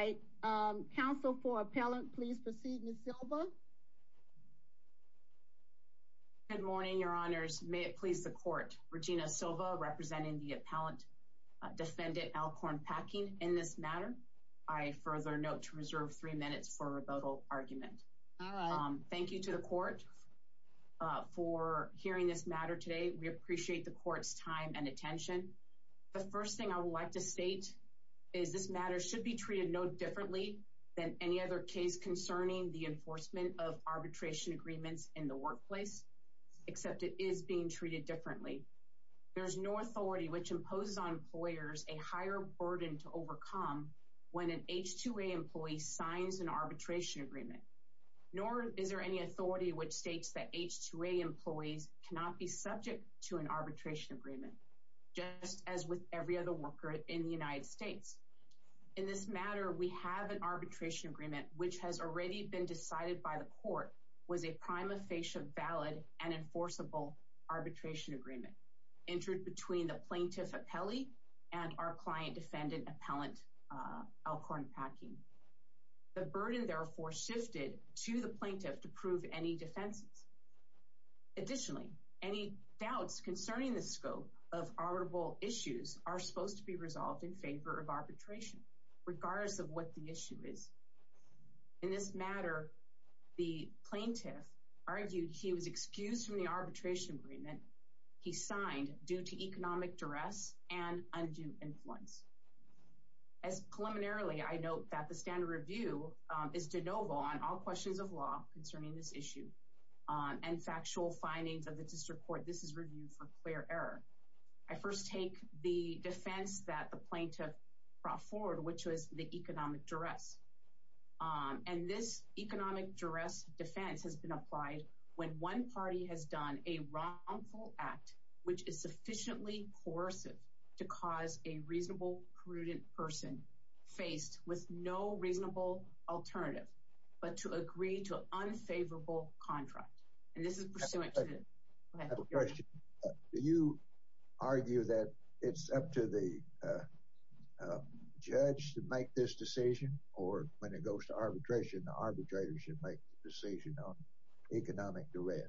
I counsel for appellant please proceed Ms. Silva. Good morning, Your Honors. May it please the court Regina Silva representing the appellant defendant Elkhorn Packing in this matter. I further note to reserve three minutes for rebuttal argument. Thank you to the court for hearing this matter today. We appreciate the court's time and attention. The first thing I would like to state is this matter should be treated no differently than any other case concerning the enforcement of arbitration agreements in the workplace, except it is being treated differently. There's no authority which imposes on employers a higher burden to overcome when an H-2A employee signs an arbitration agreement. Nor is there any authority which states that H-2A employees cannot be subject to an arbitration agreement, just as with every other worker in the United States. In this matter, we have an arbitration agreement, which has already been decided by the court was a prima facie valid and enforceable arbitration agreement entered between the plaintiff appellee and our client defendant appellant Elkhorn Packing. The burden therefore shifted to the plaintiff to prove any defenses. Additionally, any doubts concerning the scope of honorable issues are supposed to be resolved in favor of arbitration, regardless of what the issue is. In this matter, the plaintiff argued he was excused from the arbitration agreement he signed due to economic duress and undue influence. As preliminarily I note that the standard review is de novo on all questions of law concerning this issue, and factual findings of the district court. This is review for clear error. I first take the defense that the plaintiff brought forward, which was the economic duress. And this economic duress defense has been applied when one party has done a wrongful act, which is sufficiently coercive to cause a reasonable, prudent person faced with no reasonable alternative, but to agree to unfavorable contract. And this is pursuing you argue that it's up to the judge to make this decision, or when it goes to arbitration, the arbitrators should make the decision on economic duress.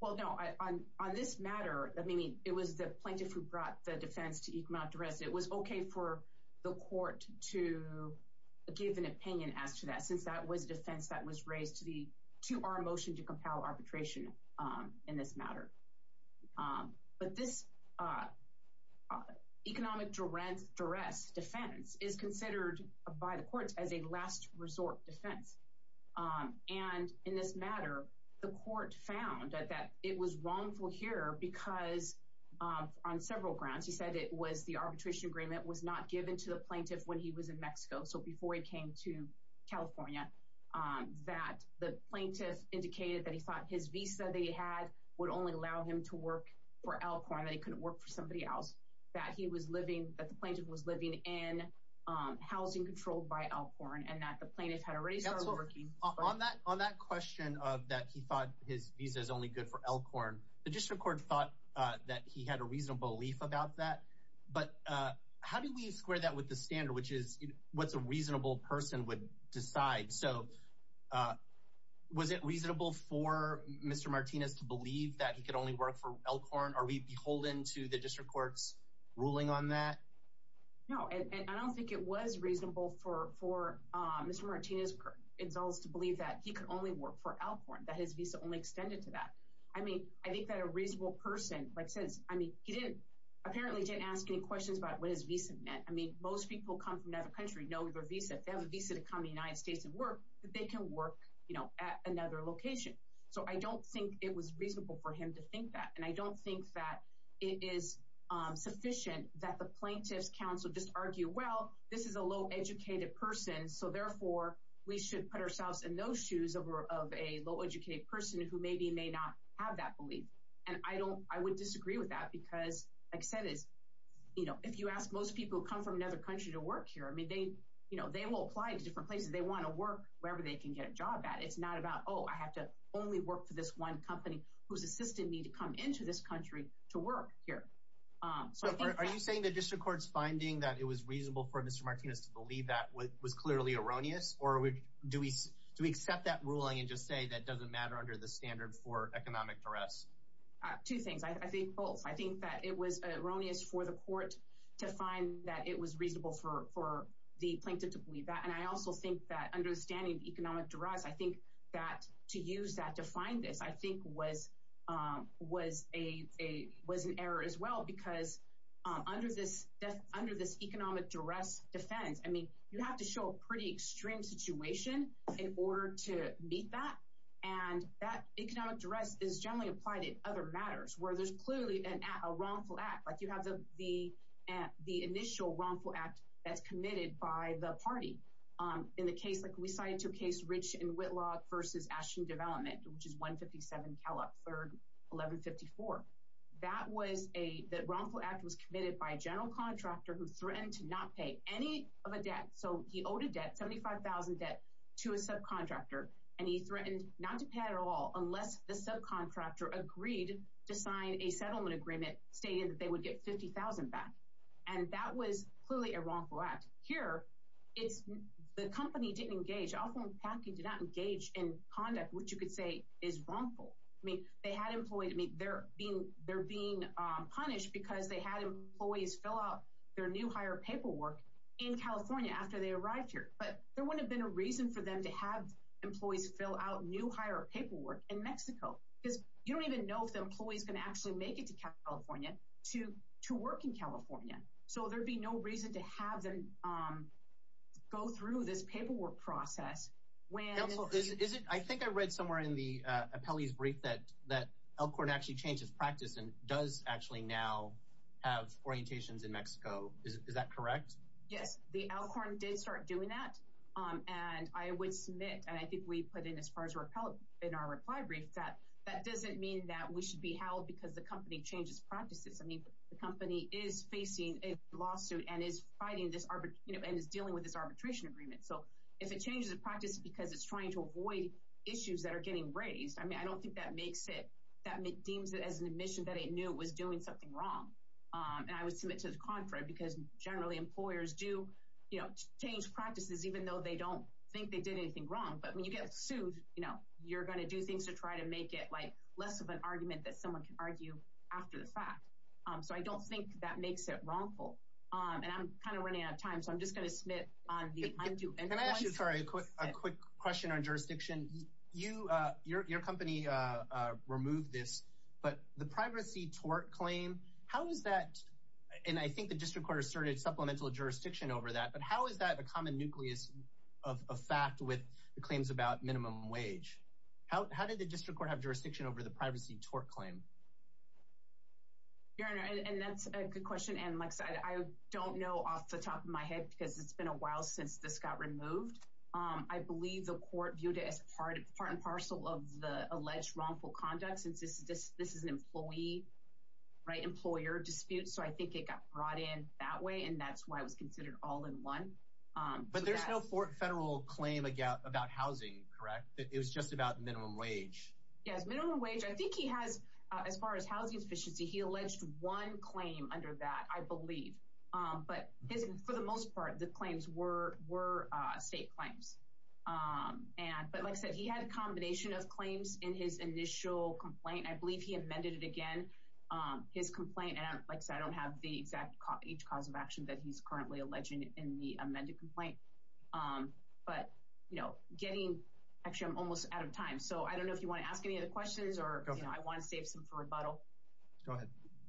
Well, no, I on on this matter, I mean, it was the plaintiff who brought the defense to economic duress, it was okay for the court to give an opinion as to that, since that was defense that was raised to the to our motion to compel arbitration in this matter. But this economic duress, duress defense is considered by the courts as a last resort defense. And in this matter, the court found that it was wrongful here, because on several grounds, he said it was the arbitration agreement was not given to the plaintiff when he was in Mexico. So before he came to California, that the plaintiff indicated that he thought his visa they had would only allow him to work for Alcorn that he couldn't work for somebody else, that he was living that the plaintiff was living in housing controlled by Alcorn and that the plaintiff had already started working on that on that question of that he thought his visa is only good for Alcorn. The district court thought that he had a reasonable belief about that. But how do we square that with the standard, which is what's a reasonable person would decide? So was it reasonable for Mr. Martinez to believe that he could only work for Alcorn? Are we beholden to the district court's ruling on that? No, I don't think it was reasonable for for Mr. Martinez insults to believe that he could only work for Alcorn that his visa only extended to that. I mean, I think that a reasonable person like says, I mean, he didn't, apparently didn't ask any questions about what his visa meant. I mean, most people come from another country know your visa, they have a visa to come to the United States and work that they can work, you know, at another location. So I don't think it was reasonable for him to think that and I don't think that it is sufficient that the plaintiff's counsel just argue, well, this is a low educated person. So therefore, we should put ourselves in those shoes of a low educated person who maybe may not have that belief. And I don't I would disagree with that because I said is, you know, if you ask most people come from another country to work here, I mean, they, you know, they will apply to different places, they want to work wherever they can get a job at it's not about Oh, I have to only work for this one company who's assisted me to come into this country to work here. So are you saying that district court's finding that it was reasonable for Mr. Martinez to believe that was clearly erroneous? Or do we do we accept that ruling and just say that doesn't matter under the standard for economic duress? Two things, I think both, I think that it was erroneous for the court to find that it was reasonable for for the plaintiff to believe that. And I also think that understanding economic duress, I think that to use that to find this, I think was, was a was an error as well. Because under this, under this economic duress defense, I mean, you have to show a pretty extreme situation in order to meet that. And that economic duress is generally applied in other matters where there's clearly an wrongful act, like you have the, the, the initial wrongful act that's committed by the party. In the case, like we cited to case rich in Whitlock versus Ashton development, which is 157, Cal up for 1154. That was a that wrongful act was committed by a general contractor who threatened to not pay any of a debt. So he owed a debt 75,000 debt to a subcontractor. And he agreed to sign a settlement agreement stating that they would get 50,000 back. And that was clearly a wrongful act here. It's the company didn't engage often package did not engage in conduct, which you could say is wrongful. I mean, they had employed me they're being they're being punished because they had employees fill out their new hire paperwork in California after they arrived here, but there wouldn't have been a reason for them to have employees fill out new hire paperwork in Mexico, because you don't even know if the employee is going to actually make it to California to to work in California. So there'd be no reason to have them go through this paperwork process. When is it I think I read somewhere in the appellees brief that that Elkhorn actually changes practice and does actually now have orientations in Mexico. Is that correct? Yes, the Elkhorn did start doing that. And I would submit I think we put in as far as our appellate in our reply brief that that doesn't mean that we should be held because the company changes practices. I mean, the company is facing a lawsuit and is fighting this arbitrary, you know, and is dealing with this arbitration agreement. So if it changes the practice, because it's trying to avoid issues that are getting raised, I mean, I don't think that makes it that deems it as an admission that it knew it was doing something wrong. And I would submit to the contract because generally employers do, you know, change practices, even though they don't think they did anything wrong. But when you get sued, you know, you're going to do things to try to make it like less of an argument that someone can argue after the fact. So I don't think that makes it wrongful. And I'm kind of running out of time. So I'm just going to submit on the undo. And I'm actually sorry, quick, a quick question on jurisdiction, you, your company, remove this, but the privacy tort claim, how is that? And I think the district court asserted supplemental jurisdiction over that. But how is that a common nucleus of a fact with the claims about minimum wage? How did the district court have jurisdiction over the privacy tort claim? Your Honor, and that's a good question. And like I said, I don't know off the top of my head, because it's been a while since this got removed. I believe the court viewed it as part of part and parcel of the alleged wrongful conduct since this is this, this is an employee, right employer dispute. So I think it got brought in that way. And that's why it was considered all in one. But there's no federal claim about housing, correct? That it was just about minimum wage. Yes, minimum wage, I think he has, as far as housing sufficiency, he alleged one claim under that, I believe. But his for the most part, the claims were were state claims. And but like I said, he had a combination of claims in his initial complaint, I believe he amended it again, his complaint and like I said, I don't have the exact copy each cause of currently alleging in the amended complaint. But, you know, getting actually, I'm almost out of time. So I don't know if you want to ask any other questions, or I want to save some for rebuttal. Go ahead.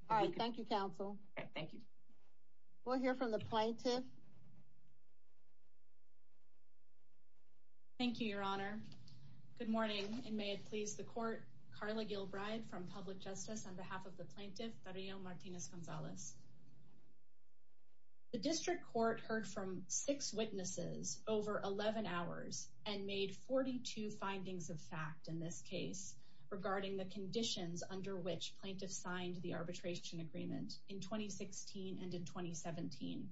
All right. Thank you, counsel. Thank you. We'll hear from the plaintiff. Thank you, Your Honor. Good morning, and may it please the court Carla Gilbride from public justice on behalf of the district court heard from six witnesses over 11 hours and made 42 findings of fact in this case, regarding the conditions under which plaintiffs signed the arbitration agreement in 2016. And in 2017.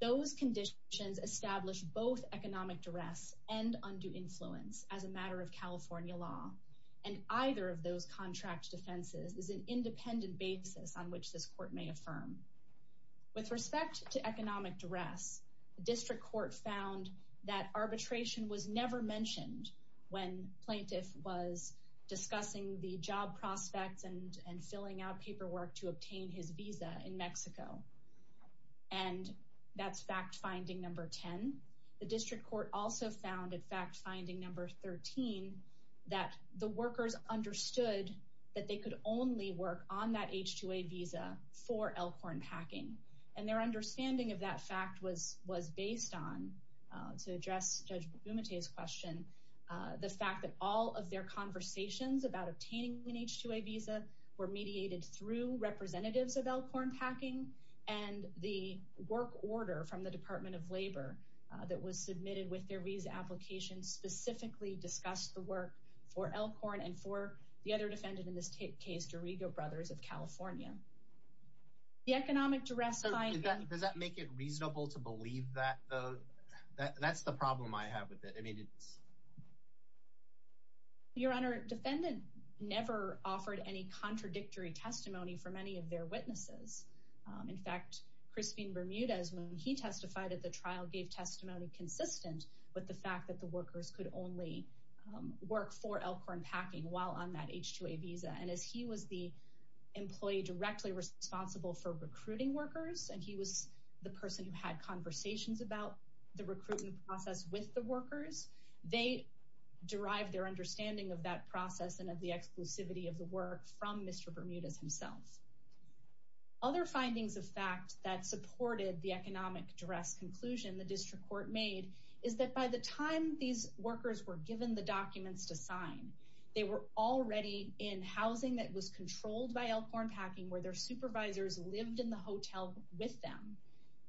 Those conditions establish both economic duress and undue influence as a matter of California law. And either of those contract defenses is an economic duress, the district court found that arbitration was never mentioned when plaintiff was discussing the job prospects and and filling out paperwork to obtain his visa in Mexico. And that's fact finding number 10. The district court also found in fact, finding number 13, that the workers understood that they could only work on that h2o visa for Elkhorn packing. And their understanding of that fact was was based on to address Judge Bumate's question, the fact that all of their conversations about obtaining an h2o visa were mediated through representatives of Elkhorn packing, and the work order from the Department of Labor that was submitted with their visa application specifically discussed the work for Elkhorn and for the other defendant in this case, Dorigo brothers of California. The economic duress does that make it reasonable to believe that? That's the problem I have with it. I mean, it's your Honor, defendant never offered any contradictory testimony for many of their witnesses. In fact, Christine Bermudez, when he testified at the trial gave testimony consistent with the fact that the workers could only work for Elkhorn packing while on that h2o visa and as he was the employee directly responsible for recruiting workers, and he was the person who had conversations about the recruitment process with the workers. They derive their understanding of that process and of the exclusivity of the work from Mr. Bermudez himself. Other findings of fact that supported the economic duress conclusion the district court made is that by the time these workers were given the documents to sign, they were already in housing that was controlled by Elkhorn packing where their supervisors lived in the hotel with them.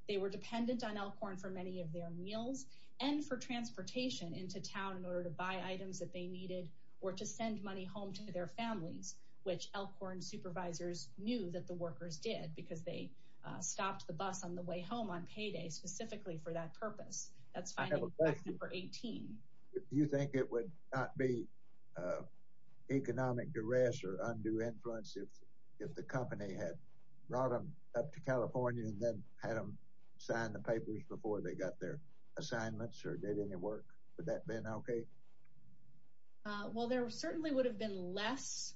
They were dependent on Elkhorn for many of their meals and for transportation into town in order to buy items that they needed or to send money home to their families, which Elkhorn supervisors knew that the workers did because they stopped the bus on the way home on payday specifically for that purpose. That's fine. Number not be economic duress or undue influence if, if the company had brought them up to California and then had them sign the papers before they got their assignments or did any work. Would that been okay? Well, there certainly would have been less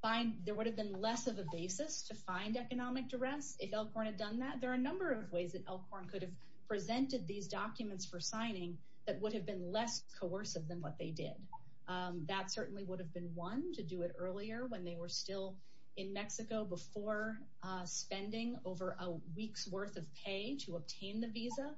fine, there would have been less of a basis to find economic duress. If Elkhorn had done that, there are a number of ways that Elkhorn could have presented these documents for signing that would have been less coercive than what they did. That certainly would have been one to do it earlier when they were still in Mexico before spending over a week's worth of pay to obtain the visa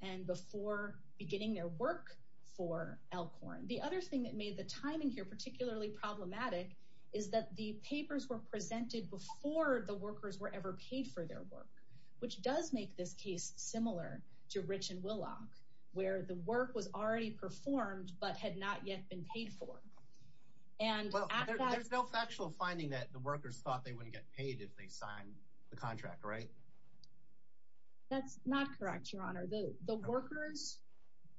and before beginning their work for Elkhorn. The other thing that made the timing here particularly problematic is that the papers were presented before the workers were ever paid for their work, which does make this case similar to Rich and Willock where the work was already performed, but had not yet been paid for. And there's no factual finding that the workers thought they wouldn't get paid if they signed the contract, right? That's not correct, Your Honor, though, the workers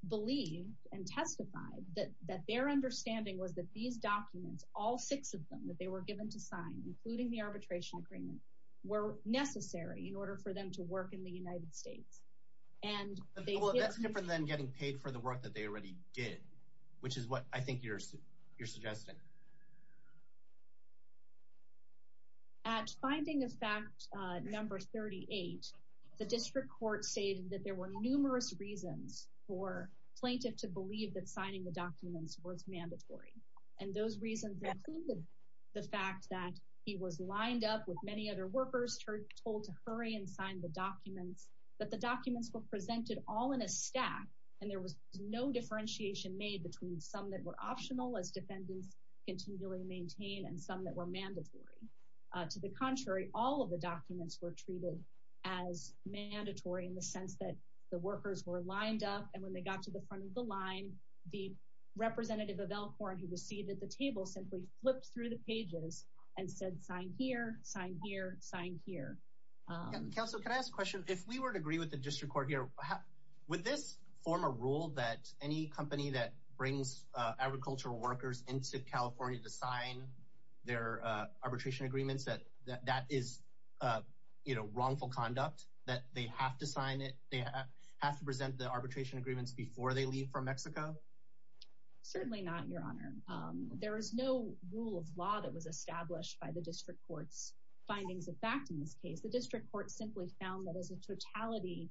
believe and testify that that their understanding was that these documents, all six of them that they were given to sign, including the arbitration agreement, were necessary in order for them to work in the United States. And that's different than getting paid for the work that they already did, which is what I think you're you're suggesting. At finding of fact, number 38, the district court stated that there were numerous reasons for plaintiff to believe that signing the documents was mandatory, and those reasons included the fact that he was lined up with many other workers told to hurry and sign the documents, that the documents were presented all in stack, and there was no differentiation made between some that were optional as defendants continually maintain and some that were mandatory. To the contrary, all of the documents were treated as mandatory in the sense that the workers were lined up. And when they got to the front of the line, the representative of Elkhorn who was seated at the table simply flipped through the pages and said, sign here, sign here, sign here. Counsel, can I ask a question? If we were to agree with the district court here, would this form a rule that any company that brings agricultural workers into California to sign their arbitration agreements that that is, you know, wrongful conduct, that they have to sign it, they have to present the arbitration agreements before they leave from Mexico? Certainly not, Your Honor. There is no rule of law that was established by the district court's findings of fact in this case, the district court simply found that as a totality,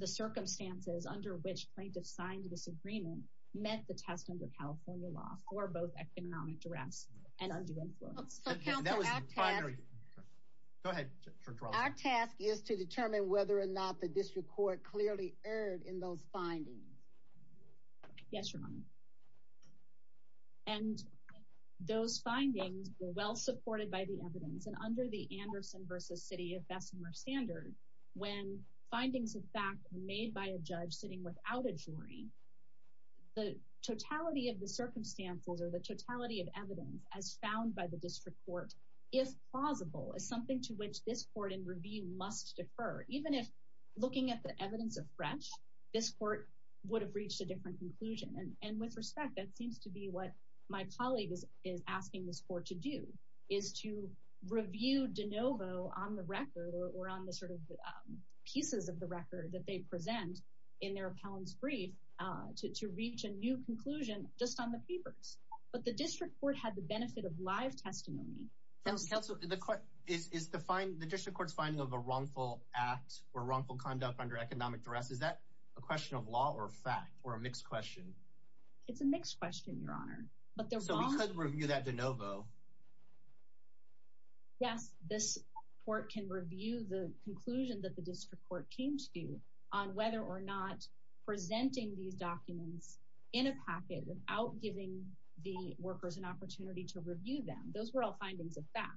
the circumstances under which plaintiffs signed this agreement met the test under California law for both economic duress and undue influence. Our task is to determine whether or not the district court clearly erred in those findings. Yes, Your Honor. And those findings were well supported by the evidence and under the Anderson versus city of Bessemer standard, when findings of fact made by a judge sitting without a jury, the totality of the circumstances or the totality of evidence as found by the district court is plausible as something to which this court in review must defer. Even if looking at the evidence of fresh, this court would have reached a different conclusion. And with respect, that seems to be what my colleague is asking this court to do is to review DeNovo on the record or on the sort of pieces of the record that they present in their appellant's brief to reach a new conclusion just on the papers. But the district court had the benefit of live testimony. So the court is to find the district court's finding of a wrongful act or wrongful conduct under economic duress. Is that a question of law or fact or a mixed question? It's a mixed question, Your Honor. But there was a review that DeNovo. Yes, this court can review the conclusion that the district court came to on whether or not presenting these documents in a packet without giving the workers an opportunity to review them, those were all findings of fact.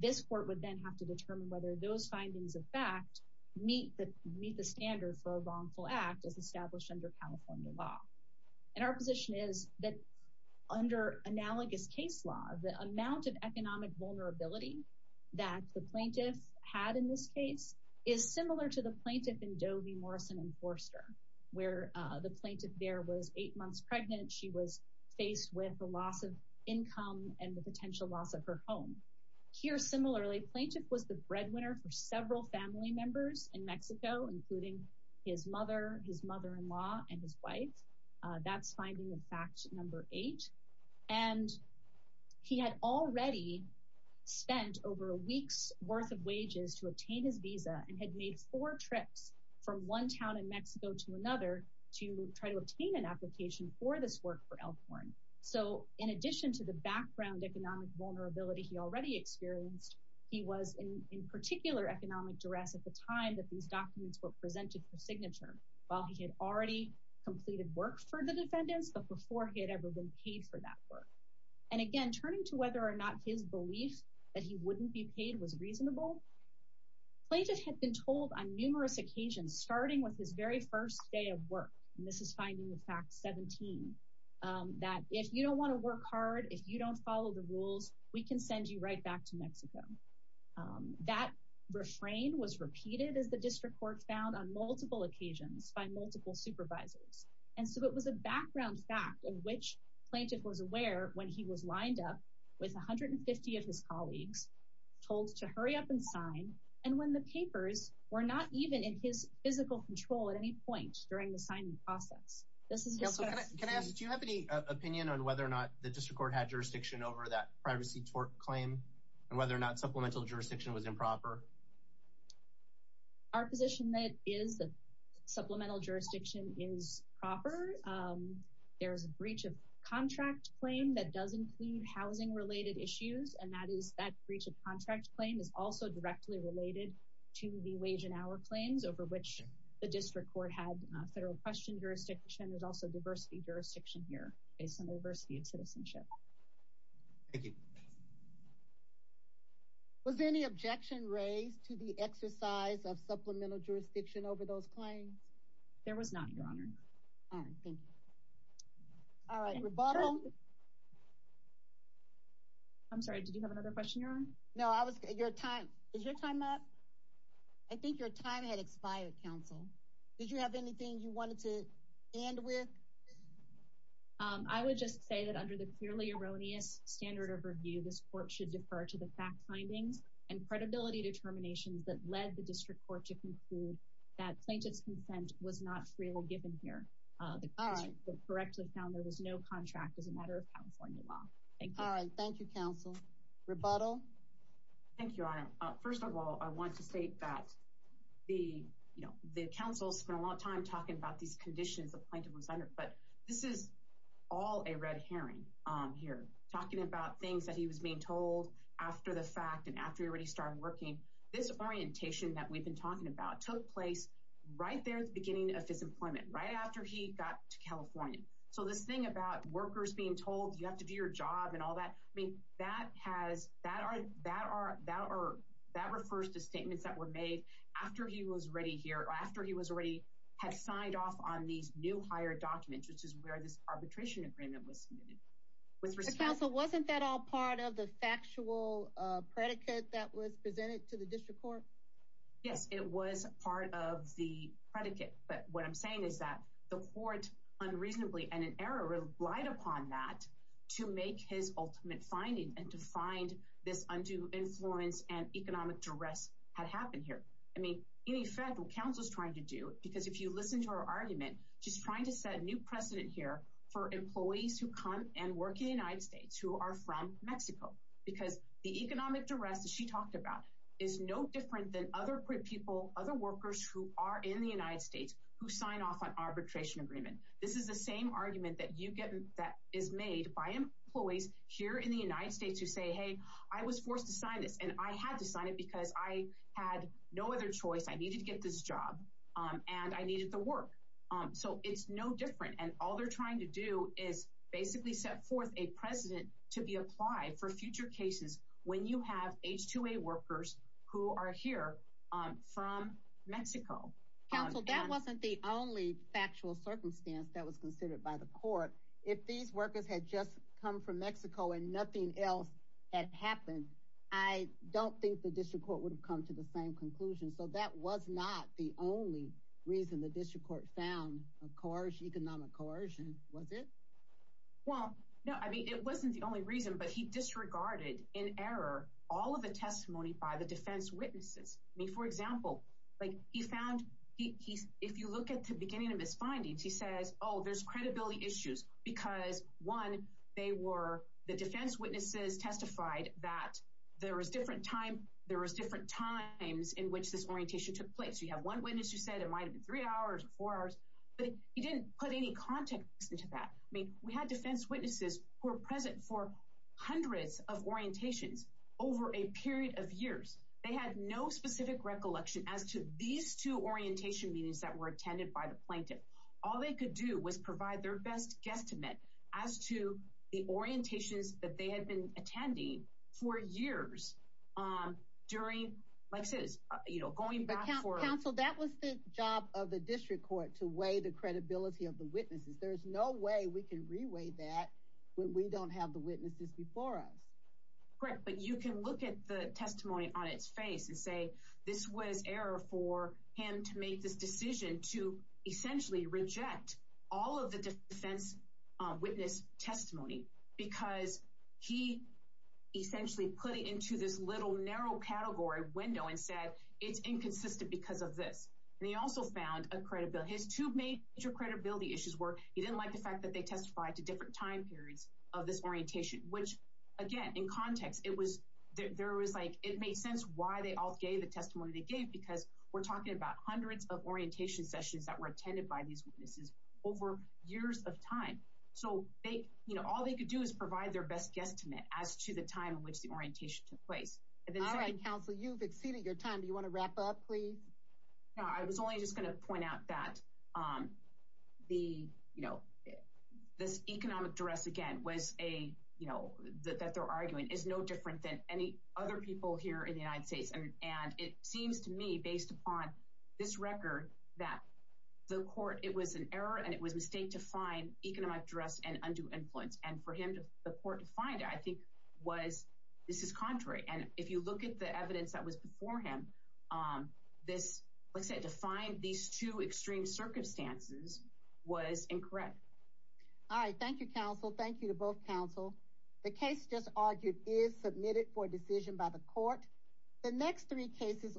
This court would then have to determine whether those findings of fact meet the meet the standard for a wrongful act as established under California law. And our position is that under analogous case law, the amount of economic vulnerability that the plaintiff had in this case is similar to the plaintiff in Dovey, Morrison and Forster, where the plaintiff there was eight months pregnant. She was faced with the loss of income and the potential loss of her home here. Similarly, plaintiff was the breadwinner for several family members in Mexico, including his mother, his mother-in-law and his wife. That's finding, in fact, number eight. And he had already spent over a week's worth of wages to obtain his visa and had made four trips from one town in Mexico to another to try to obtain an application for this work for Elkhorn. So in addition to the background economic vulnerability he already experienced, he was in particular economic duress at the time that these documents were presented for signature while he had already completed work for the defendants, but before he had ever been paid for that work. And again, turning to whether or not his belief that he wouldn't be paid was reasonable. Plaintiff had been told on numerous occasions, starting with his very first day of work, and this is finding the fact 17, that if you don't want to work hard, if you don't follow the rules, we can send you right back to Mexico. That refrain was repeated, as the district court found, on multiple occasions by multiple supervisors. And so it was a background fact in which plaintiff was aware when he was lined up with 150 of his colleagues told to hurry up and sign. And when the papers were not even in his physical control at any point during the signing process. This is can I ask, do you have any opinion on whether or not the district court had jurisdiction over that privacy tort claim and whether or not supplemental jurisdiction was proper? Our position that is the supplemental jurisdiction is proper. There is a breach of contract claim that does include housing related issues, and that is that breach of contract claim is also directly related to the wage and hour claims over which the district court had federal question jurisdiction. There's also diversity jurisdiction here based on the diversity of citizenship. Was there any objection raised to the exercise of supplemental jurisdiction over those claims? There was not, Your Honor. All right. Thank you. All right. Rebuttal. I'm sorry. Did you have another question, Your Honor? No, I was your time. Is your time up? I think your time had expired. Counsel, did you have anything you wanted to end with? I would just say that under the curation of the claim, fairly erroneous standard of review, this court should defer to the fact findings and credibility determinations that led the district court to conclude that plaintiff's consent was not freely given here. The court correctly found there was no contract as a matter of California law. Thank you. All right. Thank you, counsel. Rebuttal. Thank you, Your Honor. First of all, I want to state that the council spent a lot of time talking about these conditions the plaintiff was under, but this is all a red herring. Here talking about things that he was being told after the fact and after he already started working, this orientation that we've been talking about took place right there at the beginning of his employment, right after he got to California. So this thing about workers being told you have to do your job and all that, I mean, that has that are that are that are that refers to statements that were made after he was ready here or after he was already had signed off on these new higher documents, which is where this arbitration agreement was with counsel. Wasn't that all part of the factual predicate that was presented to the district court? Yes, it was part of the predicate. But what I'm saying is that the court unreasonably and an error relied upon that to make his ultimate finding and to find this undue influence and economic duress had happened here. I mean, in effect, what counsel is trying to do, because if you listen to our argument, just trying to set a new precedent here for employees who come and work in the United States who are from Mexico, because the economic duress that she talked about is no different than other people, other workers who are in the United States who sign off on arbitration agreement. This is the same argument that you get that is made by employees here in the United States who say, hey, I was forced to sign this and I had to sign it because I had no other choice. I needed to get this job and I needed the work. So it's no different. And all they're trying to do is basically set forth a precedent to be applied for future cases when you have H-2A workers who are here from Mexico. Counsel, that wasn't the only factual circumstance that was considered by the court. If these workers had just come from Mexico and nothing else had happened, I don't think the district court would have come to the same conclusion. So that was not the only reason the district court found a coercion, economic coercion, was it? Well, no, I mean, it wasn't the only reason, but he disregarded in error all of the testimony by the defense witnesses. I mean, for example, like he found he if you look at the beginning of his findings, he says, oh, there's credibility issues because one, they were the defense witnesses testified that there was different time. There was different times in which this orientation took place. You have one witness who said it might have been three hours or four hours, but he didn't put any context into that. I mean, we had defense witnesses who are present for hundreds of orientations over a period of years. They had no specific recollection as to these two orientation meetings that were attended by the plaintiff. All they could do was provide their best guesstimate as to the orientations that they had been attending for years. During like says, you know, going back for counsel, that was the job of the district court to weigh the credibility of the witnesses. There is no way we can reweigh that when we don't have the witnesses before us. Correct. But you can look at the testimony on its face and say this was error for him to make this decision to essentially reject all of the defense witness testimony because he essentially put it into this little narrow category window and said it's inconsistent because of this. They also found a credibility to make your credibility issues work. He didn't like the fact that they testified to different time periods of this orientation, which, again, in context, it was there was like it made sense why they all gave a testimony. They gave because we're talking about hundreds of orientation sessions that were attended by these witnesses over years of time. So they you know, all they could do is provide their best guesstimate as to the time in which the orientation took place. And then I counsel you've exceeded your time. Do you want to wrap up, please? I was only just going to point out that the you know, this economic duress again was a you know, that they're arguing is no different than any other people here in the United States. And it seems to me based upon this record that the court it was an error and it was mistake to find economic duress and undue influence. And for him to the court to find, I think, was this is contrary. And if you look at the evidence that was before him, this was to find these two extreme circumstances was incorrect. All right. Thank you, counsel. Thank you to both counsel. The case just argued is submitted for decision by the court. The next three cases.